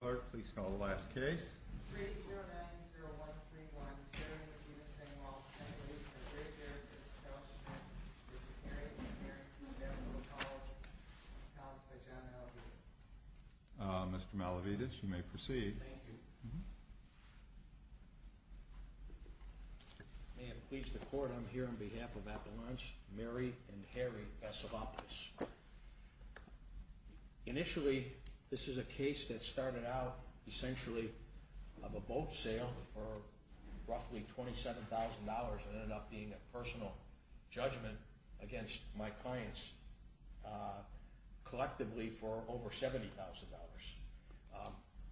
Clerk, please call the last case. 3-090131 Terry v. Vassilopoulos Mr. Malavides, you may proceed. Thank you. May it please the Court, I'm here on behalf of Appalachian Mary and Harry Vassilopoulos. Initially, this is a case that started out essentially of a boat sale for roughly $27,000 and ended up being a personal judgment against my clients collectively for over $70,000.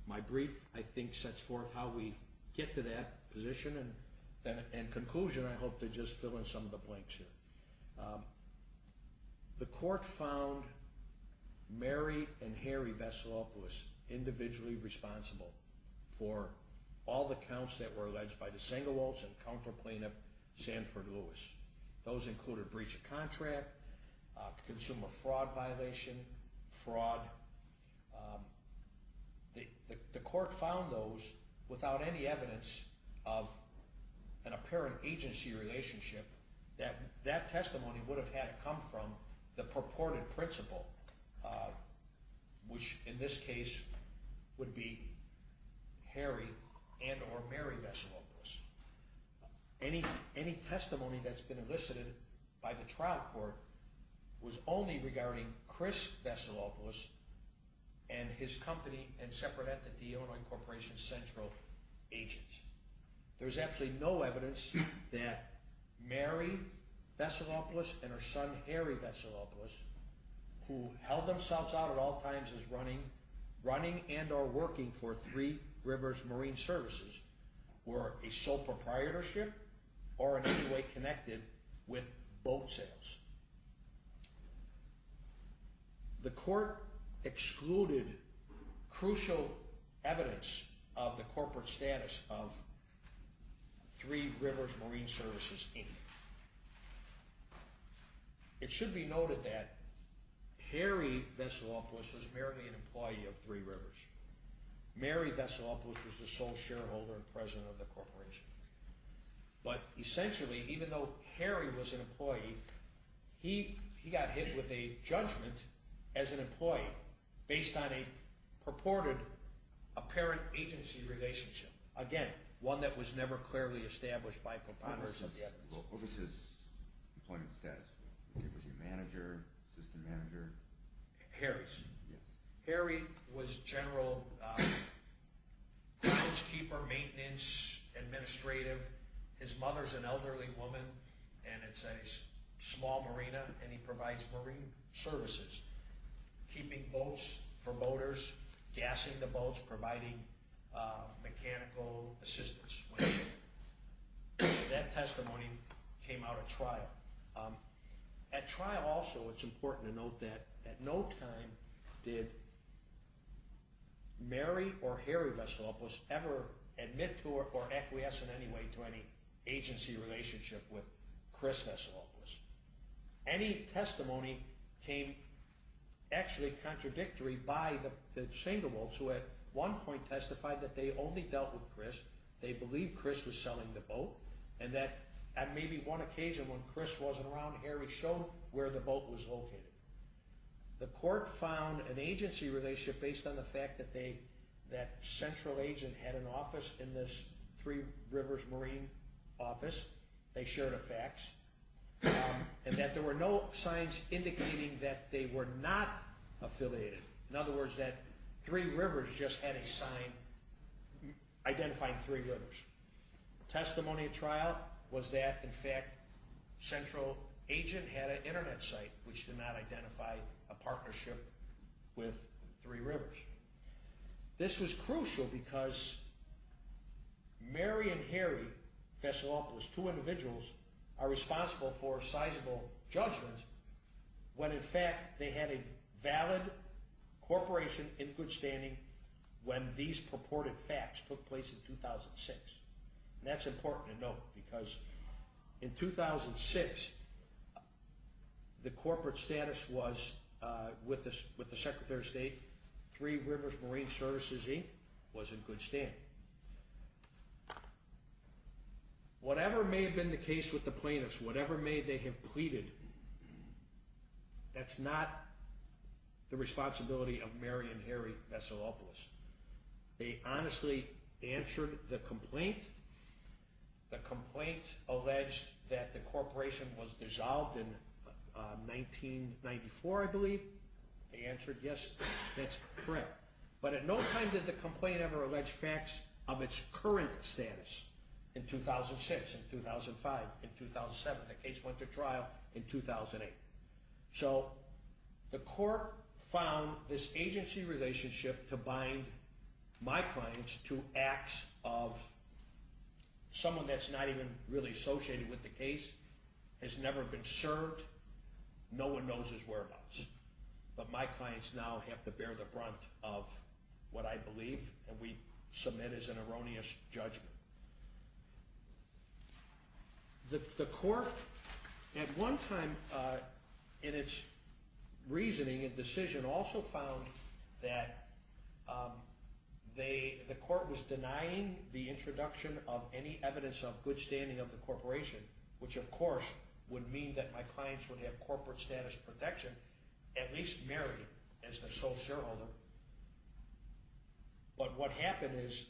My brief, I think, sets forth how we get to that position, and in conclusion, I hope to just fill in some of the blanks here. The Court found Mary and Harry Vassilopoulos individually responsible for all the counts that were alleged by the Sengewelds and counter-plaintiff Sanford Lewis. Those included breach of contract, consumer fraud violation, fraud. The Court found those without any evidence of an apparent agency relationship that that testimony would have had come from the purported principal, which in this case would be Harry and or Mary Vassilopoulos. Any testimony that's been elicited by the trial court was only regarding Chris Vassilopoulos and his company and separate entity, Illinois Corporation Central Agents. There's absolutely no evidence that Mary Vassilopoulos and her son Harry Vassilopoulos, who held themselves out at all times as running and or working for Three Rivers Marine Services, were a sole proprietorship or in any way connected with boat sales. The Court excluded crucial evidence of the corporate status of Three Rivers Marine Services Inc. It should be noted that Harry Vassilopoulos was merely an employee of Three Rivers. Mary Vassilopoulos was the sole shareholder and president of the corporation. But essentially, even though Harry was an employee, he got hit with a judgment as an employee based on a purported apparent agency relationship. Again, one that was never clearly established by proponents of the evidence. What was his employment status? Was he a manager, assistant manager? Harry was general groundskeeper, maintenance, administrative. His mother's an elderly woman and it's a small marina and he provides marine services, keeping boats for boaters, gassing the boats, providing mechanical assistance. That testimony came out at trial. At trial also, it's important to note that at no time did Mary or Harry Vassilopoulos ever admit to or acquiesce in any way to any agency relationship with Chris Vassilopoulos. Any testimony came actually contradictory by the Schengelbolts, who at one point testified that they only dealt with Chris. They believed Chris was selling the boat and that at maybe one occasion when Chris wasn't around, Harry showed where the boat was located. The court found an agency relationship based on the fact that that central agent had an office in this Three Rivers Marine office. They shared a fax and that there were no signs indicating that they were not affiliated. In other words, that Three Rivers just had a sign identifying Three Rivers. Testimony at trial was that, in fact, central agent had an internet site, which did not identify a partnership with Three Rivers. This was crucial because Mary and Harry Vassilopoulos, two individuals, are responsible for sizable judgments when in fact they had a valid corporation in good standing when these purported facts took place in 2006. That's important to note because in 2006, the corporate status was, with the Secretary of State, Three Rivers Marine Services Inc. was in good standing. Whatever may have been the case with the plaintiffs, whatever may they have pleaded, that's not the responsibility of Mary and Harry Vassilopoulos. They honestly answered the complaint. The complaint alleged that the corporation was dissolved in 1994, I believe. They answered yes, that's correct. But at no time did the complaint ever allege facts of its current status in 2006, in 2005, in 2007. The case went to trial in 2008. So the court found this agency relationship to bind my clients to acts of someone that's not even really associated with the case, has never been served, no one knows his whereabouts. But my clients now have to bear the brunt of what I believe and we submit as an erroneous judgment. The court at one time in its reasoning and decision also found that the court was denying the introduction of any evidence of good standing of the corporation, which of course would mean that my clients would have corporate status protection, at least Mary as the sole shareholder. But what happened is,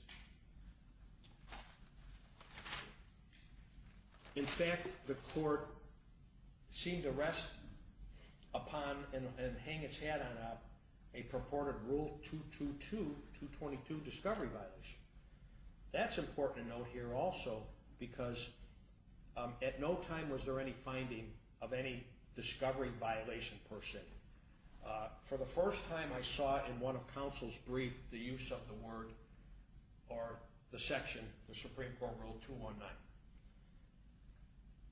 in fact, the court seemed to rest upon and hang its hat on a purported Rule 222, 222 discovery violation. That's important to note here also because at no time was there any finding of any discovery violation per se. For the first time I saw in one of counsel's brief the use of the word or the section, the Supreme Court Rule 219.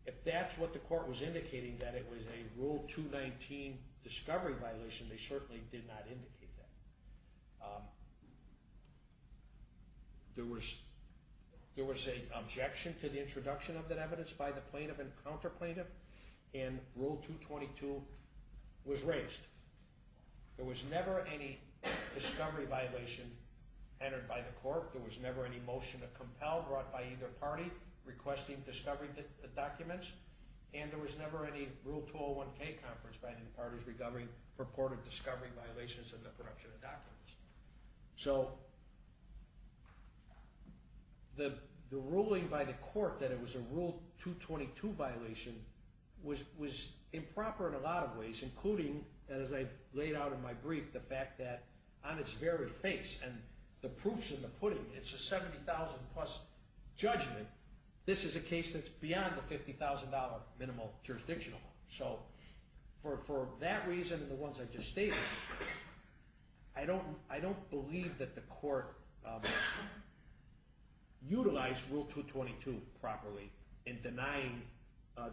If that's what the court was indicating, that it was a Rule 219 discovery violation, they certainly did not indicate that. There was an objection to the introduction of that evidence by the plaintiff and counter-plaintiff and Rule 222 was raised. There was never any discovery violation entered by the court. There was never any motion to compel brought by either party requesting discovery documents. And there was never any Rule 201K conference by any party regarding purported discovery violations of the production of documents. So the ruling by the court that it was a Rule 222 violation was improper in a lot of ways, including, as I've laid out in my brief, the fact that on its very face and the proof's in the pudding, it's a 70,000 plus judgment. This is a case that's beyond the $50,000 minimal jurisdiction. So for that reason and the ones I just stated, I don't believe that the court utilized Rule 222 properly in denying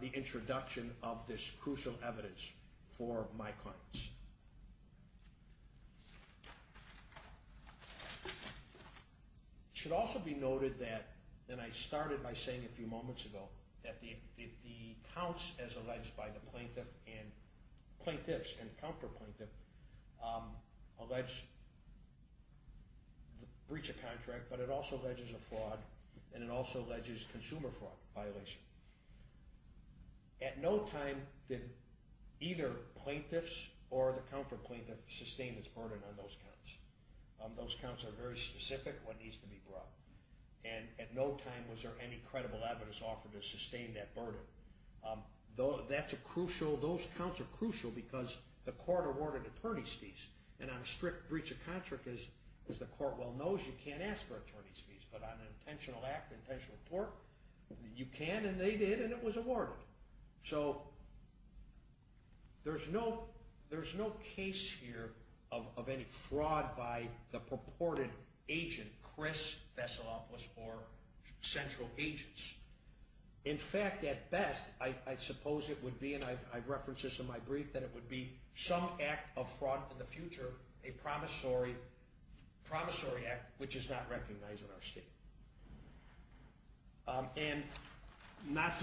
the introduction of this crucial evidence for my clients. It should also be noted that, and I started by saying a few moments ago, that the counts as alleged by the plaintiffs and counter-plaintiffs allege breach of contract, but it also alleges a fraud and it also alleges consumer fraud violation. At no time did either plaintiffs or the counter-plaintiffs sustain this burden on those counts. Those counts are very specific, what needs to be brought. And at no time was there any credible evidence offered to sustain that burden. Those counts are crucial because the court awarded attorney's fees. And on a strict breach of contract, as the court well knows, you can't ask for attorney's fees. But on an intentional act, an intentional tort, you can and they did and it was awarded. So there's no case here of any fraud by the purported agent, Chris Vesalopoulos, or central agents. In fact, at best, I suppose it would be, and I've referenced this in my brief, that it would be some act of fraud in the future, a promissory act, which is not recognized in our state. And not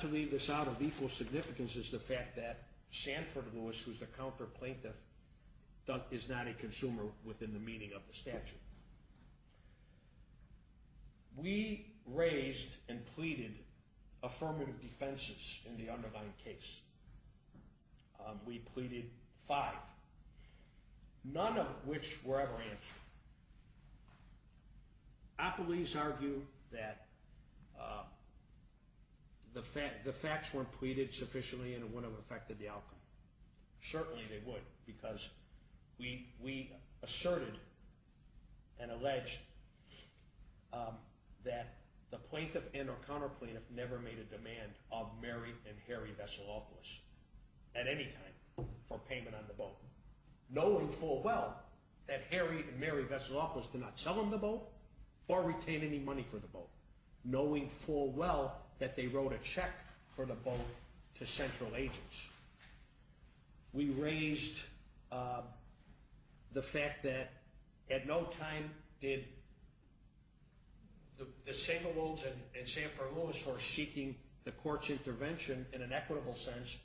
to leave this out of equal significance is the fact that Sanford Lewis, who's the counter-plaintiff, is not a consumer within the meaning of the statute. We raised and pleaded affirmative defenses in the underlying case. We pleaded five, none of which were ever answered. Appellees argue that the facts weren't pleaded sufficiently and it wouldn't have affected the outcome. Certainly they would because we asserted and alleged that the plaintiff and or counter-plaintiff never made a demand of Mary and Harry Vesalopoulos at any time for payment on the boat. Knowing full well that Harry and Mary Vesalopoulos did not sell them the boat or retain any money for the boat. Knowing full well that they wrote a check for the boat to central agents. We raised the fact that at no time did the Sablewolds and Sanford Lewis, who are seeking the court's intervention in an equitable sense,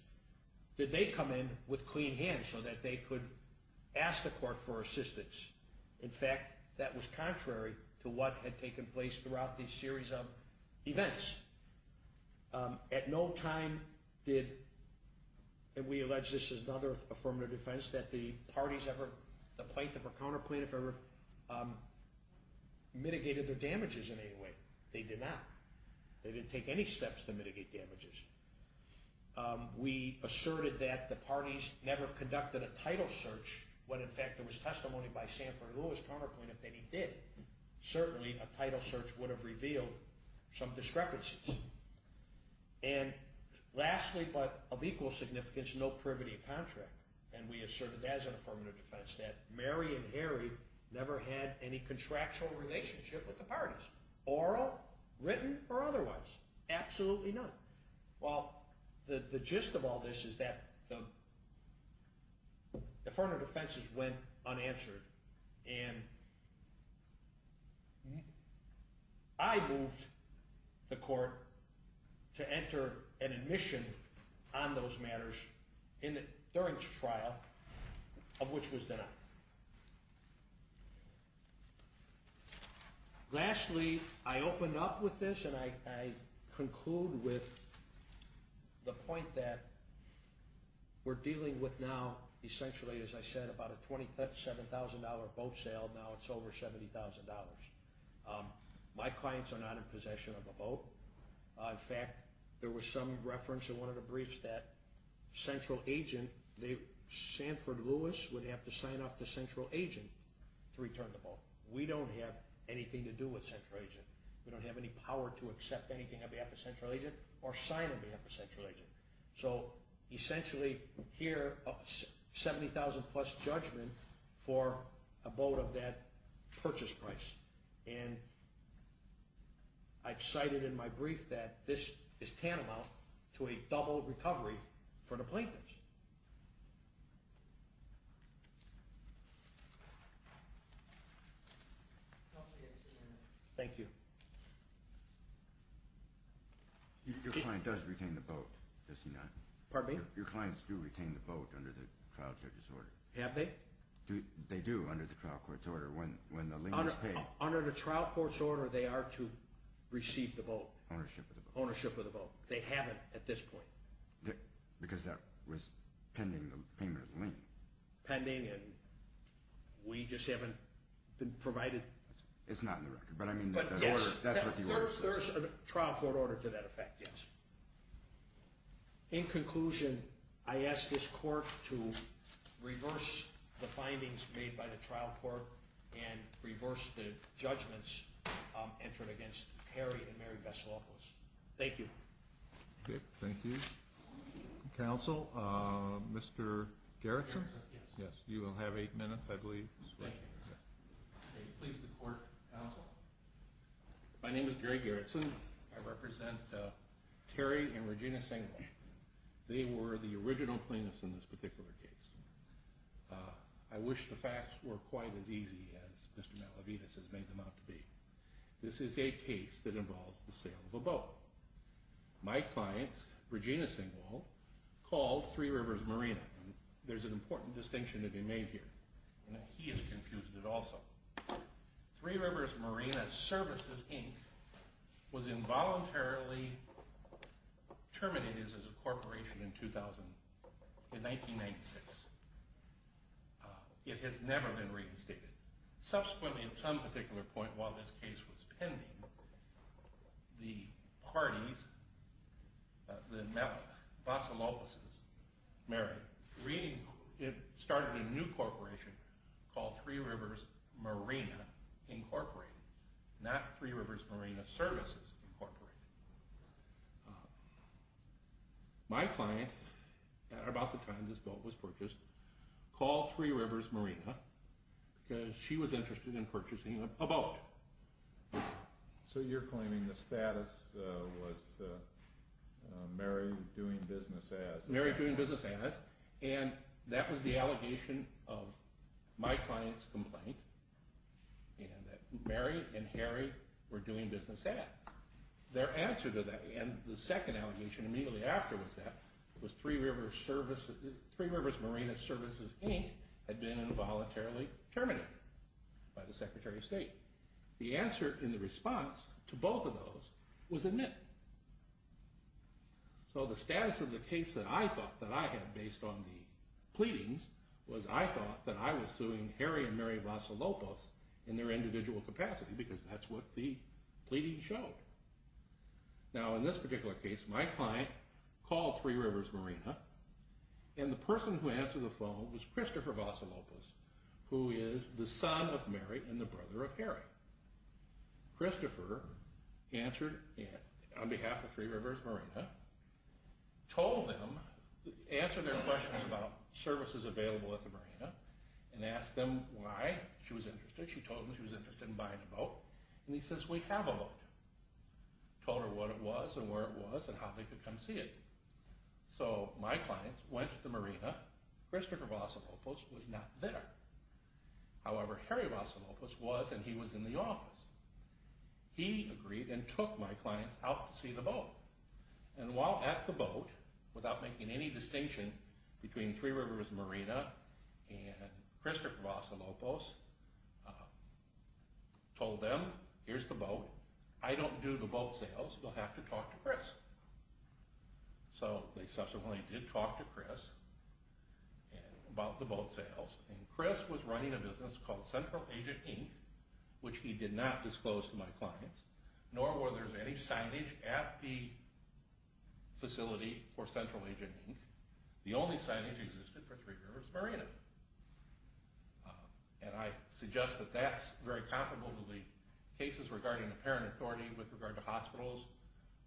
did they come in with clean hands so that they could ask the court for assistance. In fact, that was contrary to what had taken place throughout these series of events. At no time did, and we allege this is another affirmative defense, that the parties ever, the plaintiff or counter-plaintiff ever mitigated their damages in any way. They did not. They didn't take any steps to mitigate damages. We asserted that the parties never conducted a title search, when in fact there was testimony by Sanford Lewis, counter-plaintiff, that he did. Certainly a title search would have revealed some discrepancies. And lastly, but of equal significance, no privity of contract. And we asserted as an affirmative defense that Mary and Harry never had any contractual relationship with the parties. Oral, written, or otherwise. Absolutely none. Well, the gist of all this is that the affirmative defenses went unanswered. And I moved the court to enter an admission on those matters during the trial, of which was denied. Lastly, I open up with this and I conclude with the point that we're dealing with now, essentially, as I said, about a $27,000 boat sale. Now it's over $70,000. My clients are not in possession of the boat. In fact, there was some reference in one of the briefs that central agent, Sanford Lewis, would have to sign off to central agent to return the boat. We don't have anything to do with central agent. We don't have any power to accept anything on behalf of central agent or sign on behalf of central agent. So essentially, here, a $70,000 plus judgment for a boat of that purchase price. And I've cited in my brief that this is tantamount to a double recovery for the plaintiffs. Thank you. Your client does retain the boat, does he not? Pardon me? Your clients do retain the boat under the trial court's order. Have they? They do under the trial court's order when the lien is paid. Under the trial court's order, they are to receive the boat. Ownership of the boat. Ownership of the boat. They haven't at this point. Because that was pending the payment of the lien. Pending and we just haven't been provided. It's not in the record, but I mean, that's what the order says. There's a trial court order to that effect, yes. In conclusion, I ask this court to reverse the findings made by the trial court and reverse the judgments entered against Harry and Mary Vesalopoulos. Thank you. Thank you. Counsel, Mr. Gerritsen? Yes. You will have eight minutes, I believe. Thank you. Please, the court counsel. My name is Gary Gerritsen. I represent Terry and Regina Singwall. They were the original plaintiffs in this particular case. I wish the facts were quite as easy as Mr. Malavides has made them out to be. This is a case that involves the sale of a boat. My client, Regina Singwall, called Three Rivers Marina. There's an important distinction to be made here. He has confused it also. Three Rivers Marina Services, Inc. was involuntarily terminated as a corporation in 1996. It has never been reinstated. Subsequently, at some particular point while this case was pending, the parties, Vesalopoulos' and Mary's, started a new corporation called Three Rivers Marina, Inc., not Three Rivers Marina Services, Inc. My client, at about the time this boat was purchased, called Three Rivers Marina because she was interested in purchasing a boat. So you're claiming the status was Mary doing business as? And that was the allegation of my client's complaint that Mary and Harry were doing business as. Their answer to that, and the second allegation immediately after was that Three Rivers Marina Services, Inc. had been involuntarily terminated by the Secretary of State. The answer in the response to both of those was admit. So the status of the case that I thought that I had based on the pleadings was I thought that I was suing Harry and Mary Vesalopoulos in their individual capacity because that's what the pleadings showed. Now in this particular case, my client called Three Rivers Marina and the person who answered the phone was Christopher Vesalopoulos, Christopher answered, on behalf of Three Rivers Marina, told them, answered their questions about services available at the marina and asked them why she was interested. She told them she was interested in buying a boat. And he says, we have a boat. Told her what it was and where it was and how they could come see it. So my client went to the marina. Christopher Vesalopoulos was not there. However, Harry Vesalopoulos was and he was in the office. He agreed and took my client out to see the boat. And while at the boat, without making any distinction between Three Rivers Marina and Christopher Vesalopoulos, told them, here's the boat, I don't do the boat sales, you'll have to talk to Chris. So they subsequently did talk to Chris about the boat sales and Chris was running a business called Central Agent Inc., which he did not disclose to my clients, nor were there any signage at the facility for Central Agent Inc. The only signage existed for Three Rivers Marina. And I suggest that that's very comparable to the cases regarding the parent authority with regard to hospitals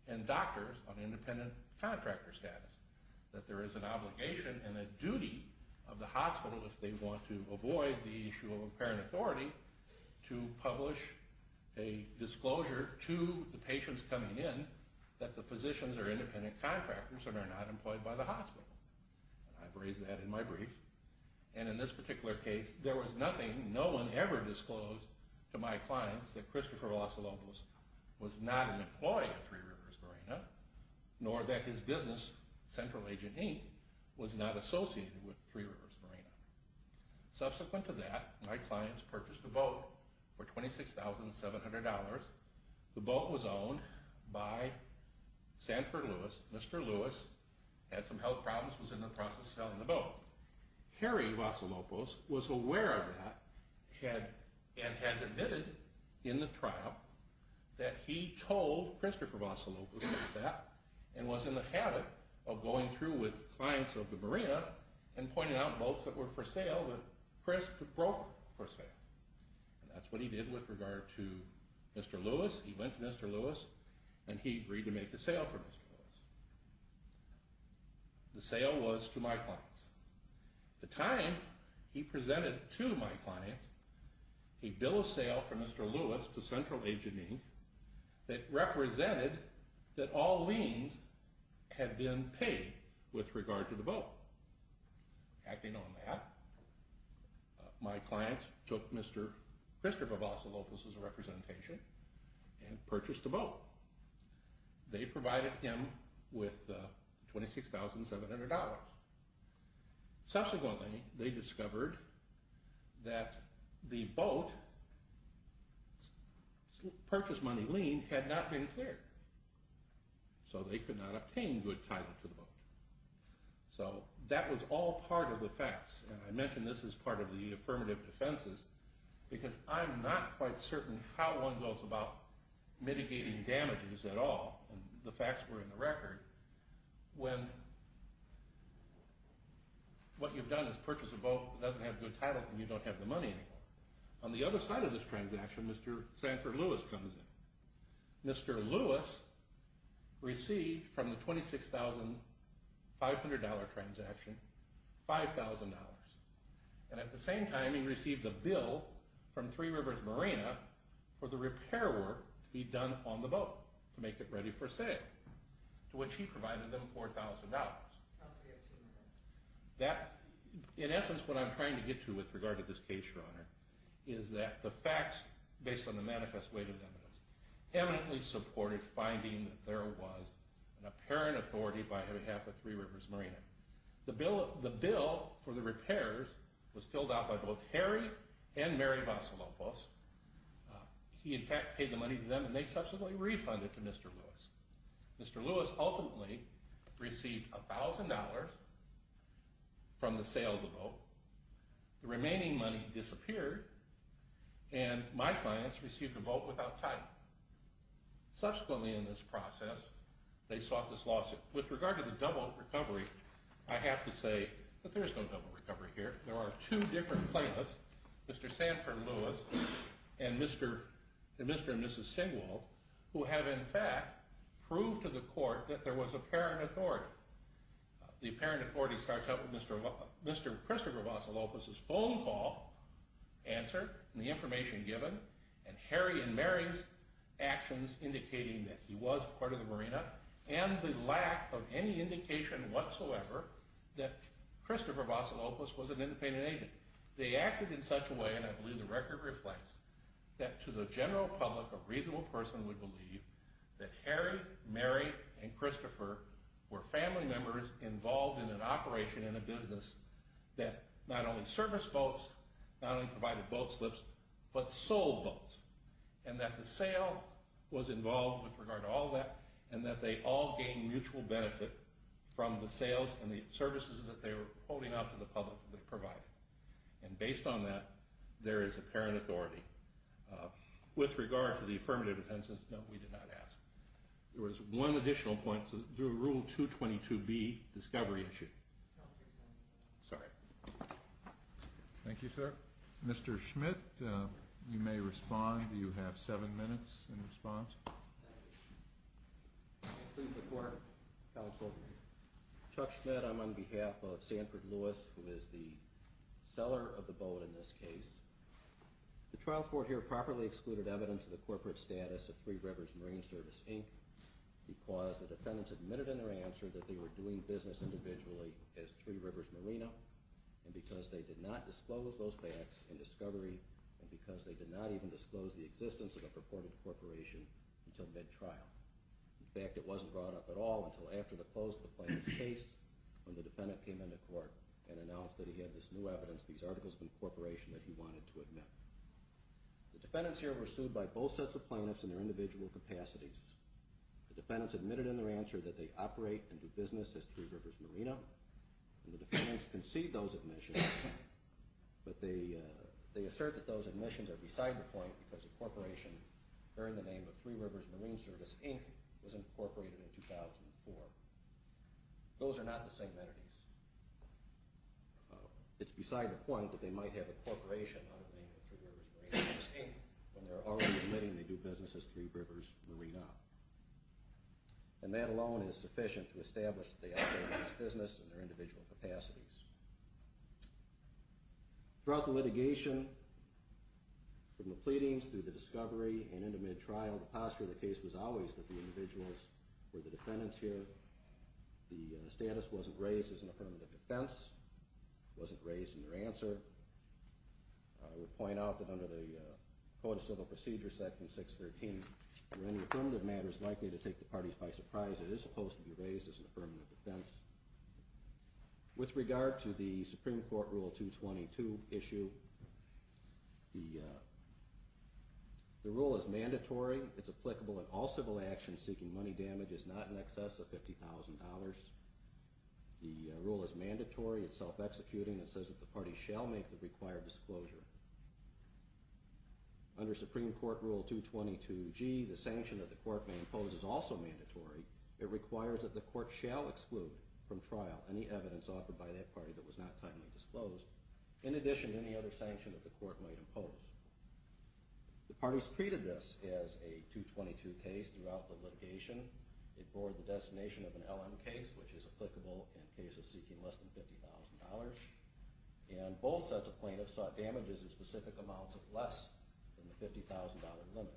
and doctors on independent contractor status, that there is an obligation and a duty of the hospital, if they want to avoid the issue of a parent authority, to publish a disclosure to the patients coming in that the physicians are independent contractors and are not employed by the hospital. I've raised that in my brief. And in this particular case, there was nothing, no one ever disclosed to my clients that Christopher Vesalopoulos was not an employee of Three Rivers Marina, nor that his business, Central Agent Inc., was not associated with Three Rivers Marina. Subsequent to that, my clients purchased a boat for $26,700. The boat was owned by Sanford Lewis. Mr. Lewis had some health problems and was in the process of selling the boat. Harry Vesalopoulos was aware of that and had admitted in the trial that he told Christopher Vesalopoulos that and was in the habit of going through with clients of the marina and pointing out boats that were for sale that Chris broke for sale. And that's what he did with regard to Mr. Lewis. He went to Mr. Lewis and he agreed to make the sale for Mr. Lewis. The sale was to my clients. At the time, he presented to my clients a bill of sale for Mr. Lewis to Central Agent Inc. that represented that all liens had been paid with regard to the boat. Acting on that, my clients took Mr. Christopher Vesalopoulos' representation and purchased the boat. They provided him with $26,700. Subsequently, they discovered that the boat's purchase money lien had not been cleared. So they could not obtain good title to the boat. So that was all part of the facts. And I mention this as part of the affirmative defenses because I'm not quite certain how one goes about mitigating damages at all, and the facts were in the record, when what you've done is purchased a boat that doesn't have good title and you don't have the money anymore. On the other side of this transaction, Mr. Sanford Lewis comes in. Mr. Lewis received from the $26,500 transaction $5,000. And at the same time, he received a bill from Three Rivers Marina for the repair work to be done on the boat to make it ready for sale, to which he provided them $4,000. In essence, what I'm trying to get to with regard to this case, Your Honor, is that the facts based on the manifest weight of evidence eminently supported finding that there was an apparent authority by and on behalf of Three Rivers Marina. The bill for the repairs was filled out by both Harry and Mary Vasalopoulos. He, in fact, paid the money to them, and they subsequently refunded to Mr. Lewis. Mr. Lewis ultimately received $1,000 from the sale of the boat. The remaining money disappeared, and my clients received a boat without title. Subsequently in this process, they sought this lawsuit. With regard to the double recovery, I have to say that there is no double recovery here. There are two different plaintiffs, Mr. Sanford Lewis and Mr. and Mrs. Singwall, who have, in fact, proved to the court that there was apparent authority. The apparent authority starts out with Mr. Christopher Vasalopoulos' phone call answer and the information given and Harry and Mary's actions indicating that he was part of the marina and the lack of any indication whatsoever that Christopher Vasalopoulos was an independent agent. They acted in such a way, and I believe the record reflects, that to the general public a reasonable person would believe that Harry, Mary, and Christopher were family members involved in an operation in a business that not only serviced boats, not only provided boat slips, but sold boats, and that the sale was involved with regard to all that and that they all gained mutual benefit from the sales and the services that they were holding out to the public that they provided. And based on that, there is apparent authority. With regard to the affirmative defense, no, we did not ask. There was one additional point to the Rule 222B discovery issue. Sorry. Thank you, sir. Mr. Schmidt, you may respond. Do you have seven minutes in response? Please report, Counsel. Chuck Schmidt. I'm on behalf of Sanford Lewis, who is the seller of the boat in this case. The trial court here properly excluded evidence of the corporate status of Three Rivers Marine Service, Inc. because the defendants admitted in their answer that they were doing business individually as Three Rivers Marina and because they did not disclose those facts in discovery and because they did not even disclose the existence of a purported corporation until mid-trial. In fact, it wasn't brought up at all until after the close of the plaintiff's case when the defendant came into court and announced that he had this new evidence, these articles of incorporation that he wanted to admit. The defendants here were sued by both sets of plaintiffs in their individual capacities. The defendants admitted in their answer that they operate and do business as Three Rivers Marina and the defendants concede those admissions, but they assert that those admissions are beside the point because incorporation under the name of Three Rivers Marine Service, Inc. was incorporated in 2004. Those are not the same entities. It's beside the point that they might have incorporation under the name of Three Rivers Marina, when they're already admitting they do business as Three Rivers Marina. And that alone is sufficient to establish that they operate as business in their individual capacities. Throughout the litigation, from the pleadings through the discovery and into mid-trial, the posture of the case was always that the individuals were the defendants here. The status wasn't raised as an affirmative defense. It wasn't raised in their answer. I would point out that under the Code of Civil Procedure, Section 613, where any affirmative matter is likely to take the parties by surprise, it is supposed to be raised as an affirmative defense. With regard to the Supreme Court Rule 222 issue, the rule is mandatory. It's applicable in all civil actions seeking money damages not in excess of $50,000. The rule is mandatory. It's self-executing. It says that the parties shall make the required disclosure. Under Supreme Court Rule 222G, the sanction that the court may impose is also mandatory. It requires that the court shall exclude from trial any evidence offered by that party that was not timely disclosed, in addition to any other sanction that the court might impose. The parties treated this as a 222 case throughout the litigation. It bore the destination of an LM case, which is applicable in cases seeking less than $50,000. And both sets of plaintiffs sought damages in specific amounts of less than the $50,000 limit.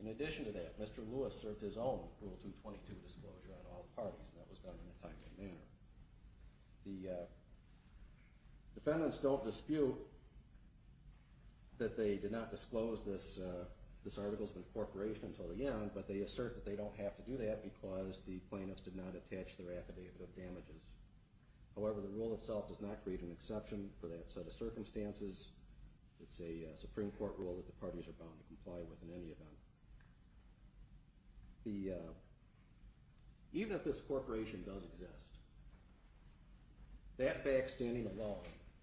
In addition to that, Mr. Lewis served his own Rule 222 disclosure on all parties, and that was done in a timely manner. The defendants don't dispute that they did not disclose this article of incorporation until the end, but they assert that they don't have to do that because the plaintiffs did not attach their affidavit of damages. However, the Rule itself does not create an exception for that set of circumstances. It's a Supreme Court Rule that the parties are bound to comply with in any event. Even if this corporation does exist, that backstanding alone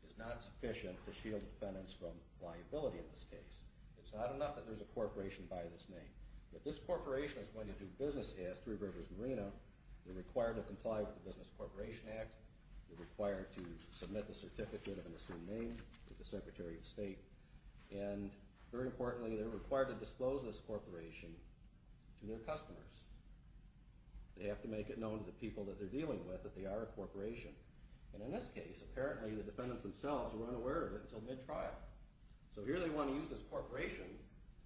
is not sufficient to shield defendants from liability in this case. It's not enough that there's a corporation by this name. If this corporation is going to do business as Three Rivers Marina, they're required to comply with the Business Corporation Act, they're required to submit the certificate of an assumed name to the Secretary of State, and very importantly, they're required to disclose this corporation to their customers. They have to make it known to the people that they're dealing with that they are a corporation. And in this case, apparently the defendants themselves were unaware of it until mid-trial. So here they want to use this corporation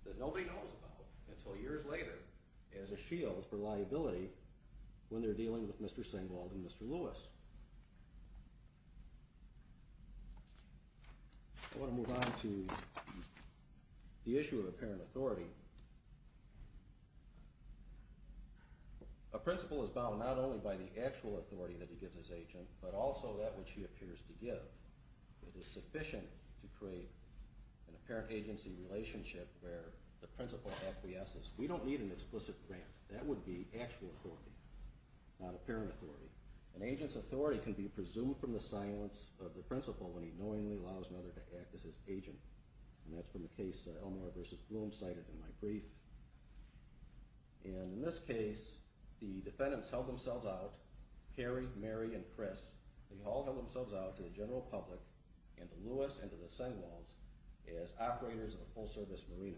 that nobody knows about until years later as a shield for liability when they're dealing with Mr. Singwald and Mr. Lewis. I want to move on to the issue of apparent authority. A principal is bound not only by the actual authority that he gives his agent, but also that which he appears to give. It is sufficient to create an apparent agency relationship where the principal acquiesces. We don't need an explicit grant. That would be actual authority, not apparent authority. An agent's authority can be presumed from the silence of the principal when he knowingly allows another to act as his agent. And that's from a case that Elmore v. Bloom cited in my brief. And in this case, the defendants held themselves out, Carrie, Mary, and Chris. They all held themselves out to the general public and to Lewis and to the Singwalds as operators of a full-service marina.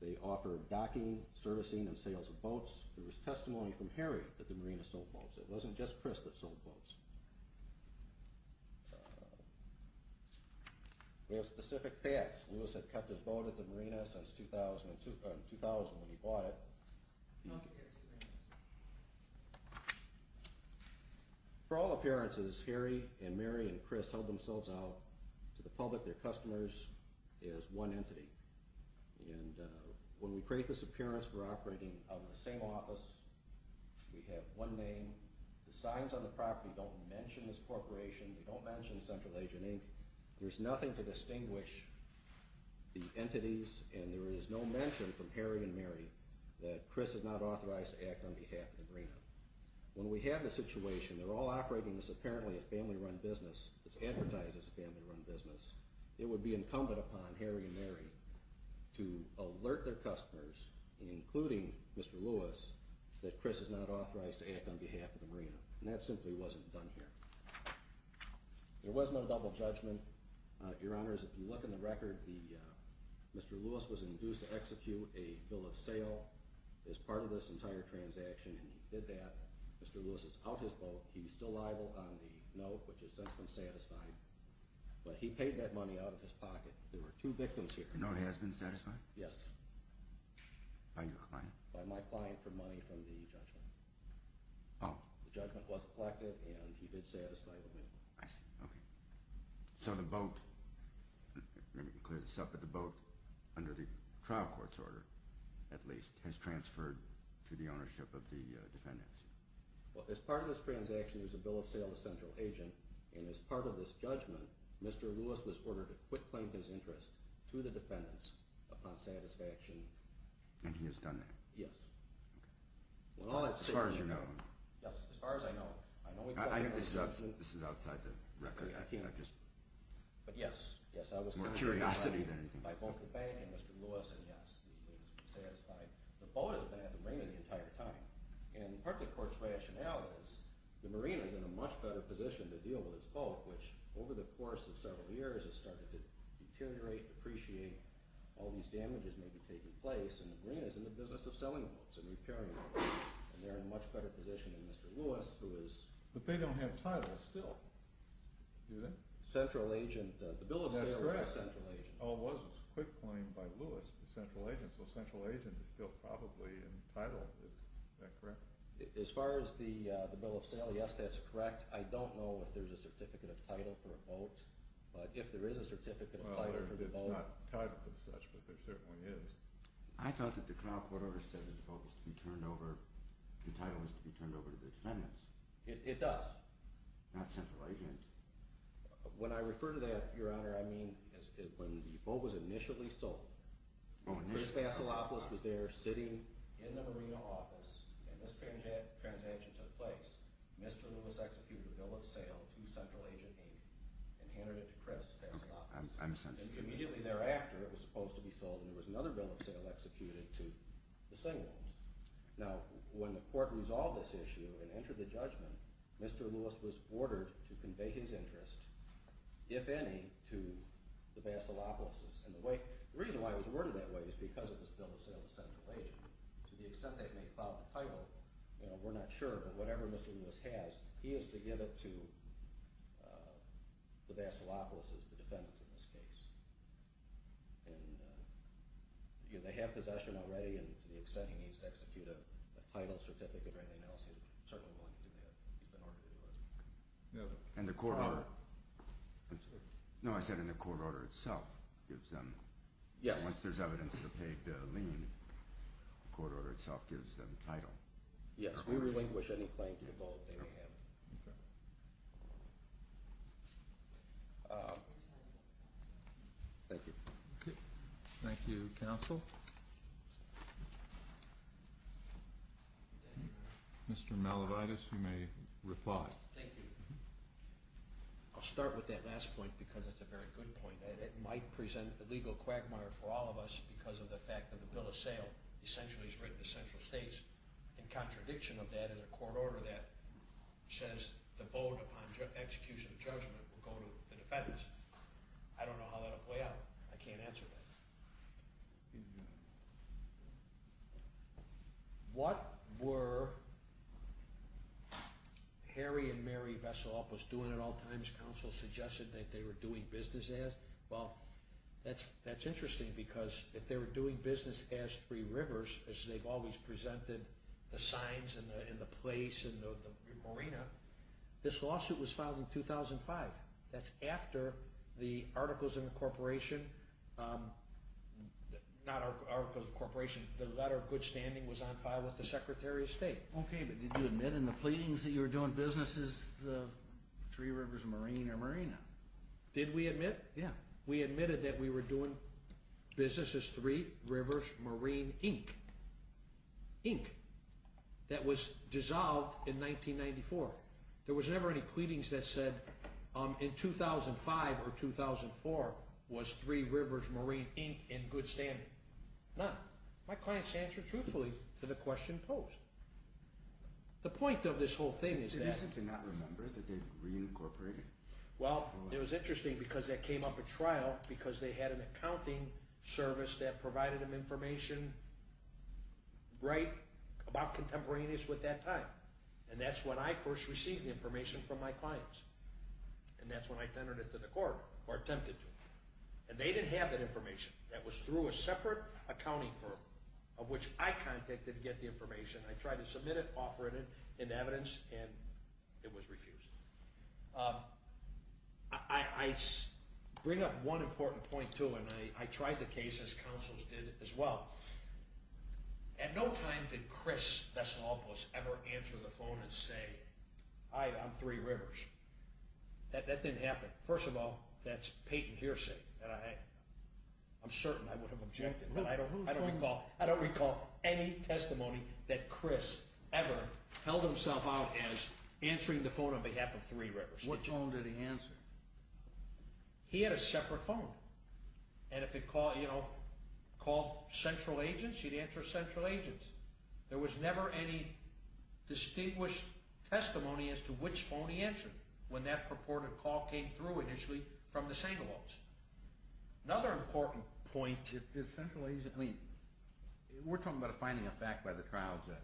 They offered docking, servicing, and sales of boats. There was testimony from Harry that the marina sold boats. It wasn't just Chris that sold boats. There are specific facts. Lewis had kept his boat at the marina since 2000 when he bought it. For all appearances, Harry and Mary and Chris held themselves out to the public, their customers, as one entity. And when we create this appearance, we're operating out of the same office. We have one name. The signs on the property don't mention this corporation. They don't mention Central Agent Inc. There's nothing to distinguish the entities, and there is no mention from Harry and Mary that Chris is not authorized to act on behalf of the marina. When we have this situation, they're all operating as apparently a family-run business. It's advertised as a family-run business. It would be incumbent upon Harry and Mary to alert their customers, including Mr. Lewis, that Chris is not authorized to act on behalf of the marina. And that simply wasn't done here. There was no double judgment. Your Honors, if you look in the record, Mr. Lewis was induced to execute a bill of sale as part of this entire transaction. And he did that. Mr. Lewis is out of his boat. He's still liable on the note, which has since been satisfied. But he paid that money out of his pocket. There were two victims here. The note has been satisfied? Yes. By your client? By my client for money from the judgment. Oh. The judgment was effective, and he did satisfy the note. I see. Okay. So the boat – let me clear this up – but the boat, under the trial court's order at least, has transferred to the ownership of the defendants? Well, as part of this transaction, there was a bill of sale to Central Agent. And as part of this judgment, Mr. Lewis was ordered to quit claiming his interest to the defendants upon satisfaction. And he has done that? Yes. Okay. As far as you know. Yes. As far as I know. I think this is outside the record. But, yes. More curiosity than anything. By both the bank and Mr. Lewis. And, yes, it has been satisfied. The boat has been at the marina the entire time. And part of the court's rationale is the marina is in a much better position to deal with its boat, which over the course of several years has started to deteriorate, depreciate. All these damages may be taking place, and the marina is in the business of selling boats and repairing boats. And they're in a much better position than Mr. Lewis, who is... But they don't have title still, do they? Central Agent. The bill of sale is by Central Agent. Oh, it was a quit claim by Lewis to Central Agent. So Central Agent is still probably in title. Is that correct? As far as the bill of sale, yes, that's correct. I don't know if there's a certificate of title for a boat. But if there is a certificate of title for the boat... Well, it's not titled as such, but there certainly is. I thought that the trial court order said that the boat was to be turned over... The title was to be turned over to the defendants. It does. Not Central Agent. When I refer to that, Your Honor, I mean when the boat was initially sold. Chris Fasilopoulos was there sitting in the marina office, and this transaction took place. Mr. Lewis executed a bill of sale to Central Agent 8 and handed it to Chris Fasilopoulos. Immediately thereafter, it was supposed to be sold, and there was another bill of sale executed to the same ones. Now, when the court resolved this issue and entered the judgment, Mr. Lewis was ordered to convey his interest, if any, to the Fasilopoulos. And the reason why it was ordered that way is because it was a bill of sale to Central Agent. To the extent that it may cloud the title, we're not sure, but whatever Mr. Lewis has, he has to give it to the Fasilopoulos' defendants in this case. And they have possession already, and to the extent he needs to execute a title certificate or anything else, he's certainly willing to do that. He's been ordered to do it. And the court order... No, I said in the court order itself gives them... Yes. Once there's evidence of the paid lien, the court order itself gives them title. Yes, we relinquish any claim to the vault they may have. Okay. Thank you. Okay. Thank you, counsel. Mr. Malavides, you may reply. Thank you. I'll start with that last point because it's a very good point, and it might present a legal quagmire for all of us because of the fact that the bill of sale essentially is written to central states. In contradiction of that is a court order that says the boat, upon execution of judgment, will go to the defendants. I don't know how that will play out. I can't answer that. What were Harry and Mary Vasilopoulos doing at all times? Counsel suggested that they were doing business as... Three Rivers, as they've always presented, the signs and the place and the marina. This lawsuit was filed in 2005. That's after the articles of incorporation... Not articles of incorporation. The letter of good standing was on file with the Secretary of State. Okay, but did you admit in the pleadings that you were doing business as Three Rivers Marine or Marina? Did we admit? Yeah. We admitted that we were doing business as Three Rivers Marine Inc. Inc. That was dissolved in 1994. There was never any pleadings that said in 2005 or 2004 was Three Rivers Marine Inc. in good standing. None. My clients answered truthfully to the question posed. The point of this whole thing is that... Did you seem to not remember that they reincorporated? Well, it was interesting because that came up at trial because they had an accounting service that provided them information... Right? About contemporaneous with that time. And that's when I first received the information from my clients. And that's when I tendered it to the court or attempted to. And they didn't have that information. That was through a separate accounting firm of which I contacted to get the information. I tried to submit it, offer it in evidence, and it was refused. I bring up one important point, too. And I tried the case, as counsels did as well. At no time did Chris Vesalopoulos ever answer the phone and say, I'm Three Rivers. That didn't happen. First of all, that's patent hearsay. And I'm certain I would have objected. I don't recall any testimony that Chris ever held himself out as answering the phone on behalf of Three Rivers. What phone did he answer? He had a separate phone. And if it called Central Agents, he'd answer Central Agents. There was never any distinguished testimony as to which phone he answered when that purported call came through initially from the Sangalops. Another important point, did Central Agents – I mean, we're talking about a finding of fact by the trial judge.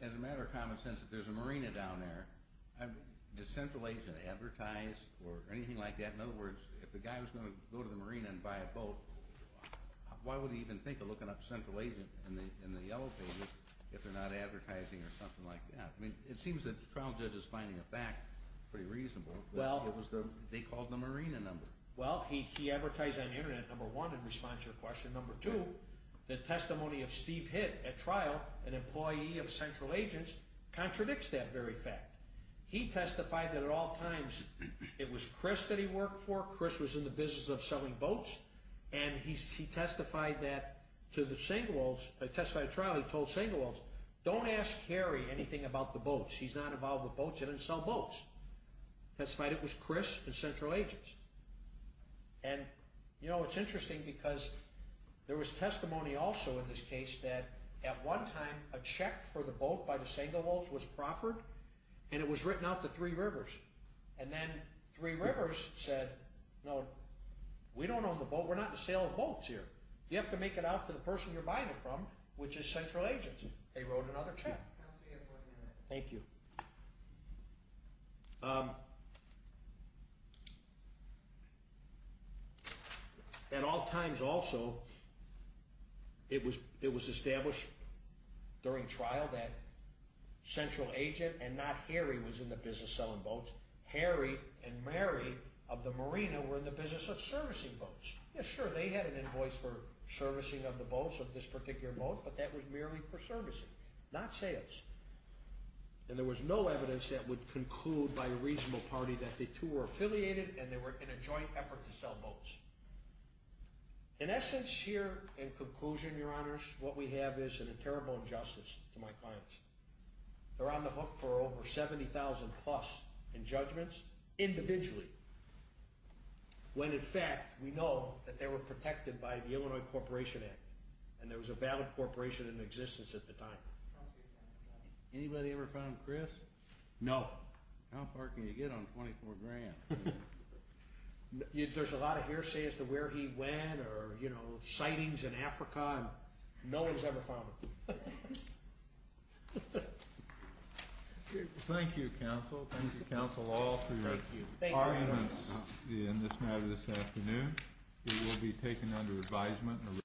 As a matter of common sense, if there's a marina down there, does Central Agent advertise or anything like that? In other words, if the guy was going to go to the marina and buy a boat, why would he even think of looking up Central Agent in the yellow paper if they're not advertising or something like that? I mean, it seems that the trial judge's finding of fact is pretty reasonable. They called the marina number. Well, he advertised on the Internet, number one, in response to your question. Number two, the testimony of Steve Hitt at trial, an employee of Central Agents, contradicts that very fact. He testified that at all times it was Chris that he worked for. Chris was in the business of selling boats. And he testified at trial, he told Sangalops, don't ask Harry anything about the boats. He's not involved with boats. He doesn't sell boats. He testified it was Chris at Central Agents. And, you know, it's interesting because there was testimony also in this case that at one time a check for the boat by the Sangalops was proffered, and it was written out to Three Rivers. And then Three Rivers said, no, we don't own the boat. We're not in the sale of boats here. You have to make it out to the person you're buying it from, which is Central Agents. They wrote another check. Thank you. At all times also, it was established during trial that Central Agent and not Harry was in the business of selling boats. Harry and Mary of the marina were in the business of servicing boats. Yeah, sure, they had an invoice for servicing of the boats, of this particular boat, but that was merely for servicing, not sales. And there was no evidence that would conclude by a reasonable party that the two were affiliated and they were in a joint effort to sell boats. In essence here, in conclusion, Your Honors, what we have is a terrible injustice to my clients. They're on the hook for over $70,000 plus in judgments, individually. When, in fact, we know that they were protected by the Illinois Corporation Act, and there was a valid corporation in existence at the time. Anybody ever found Chris? No. How far can you get on 24 grand? There's a lot of hearsay as to where he went or, you know, sightings in Africa. No one's ever found him. Thank you, counsel. Thank you, counsel, all three of you. Thank you, Your Honors. The arguments in this matter this afternoon will be taken under advisement.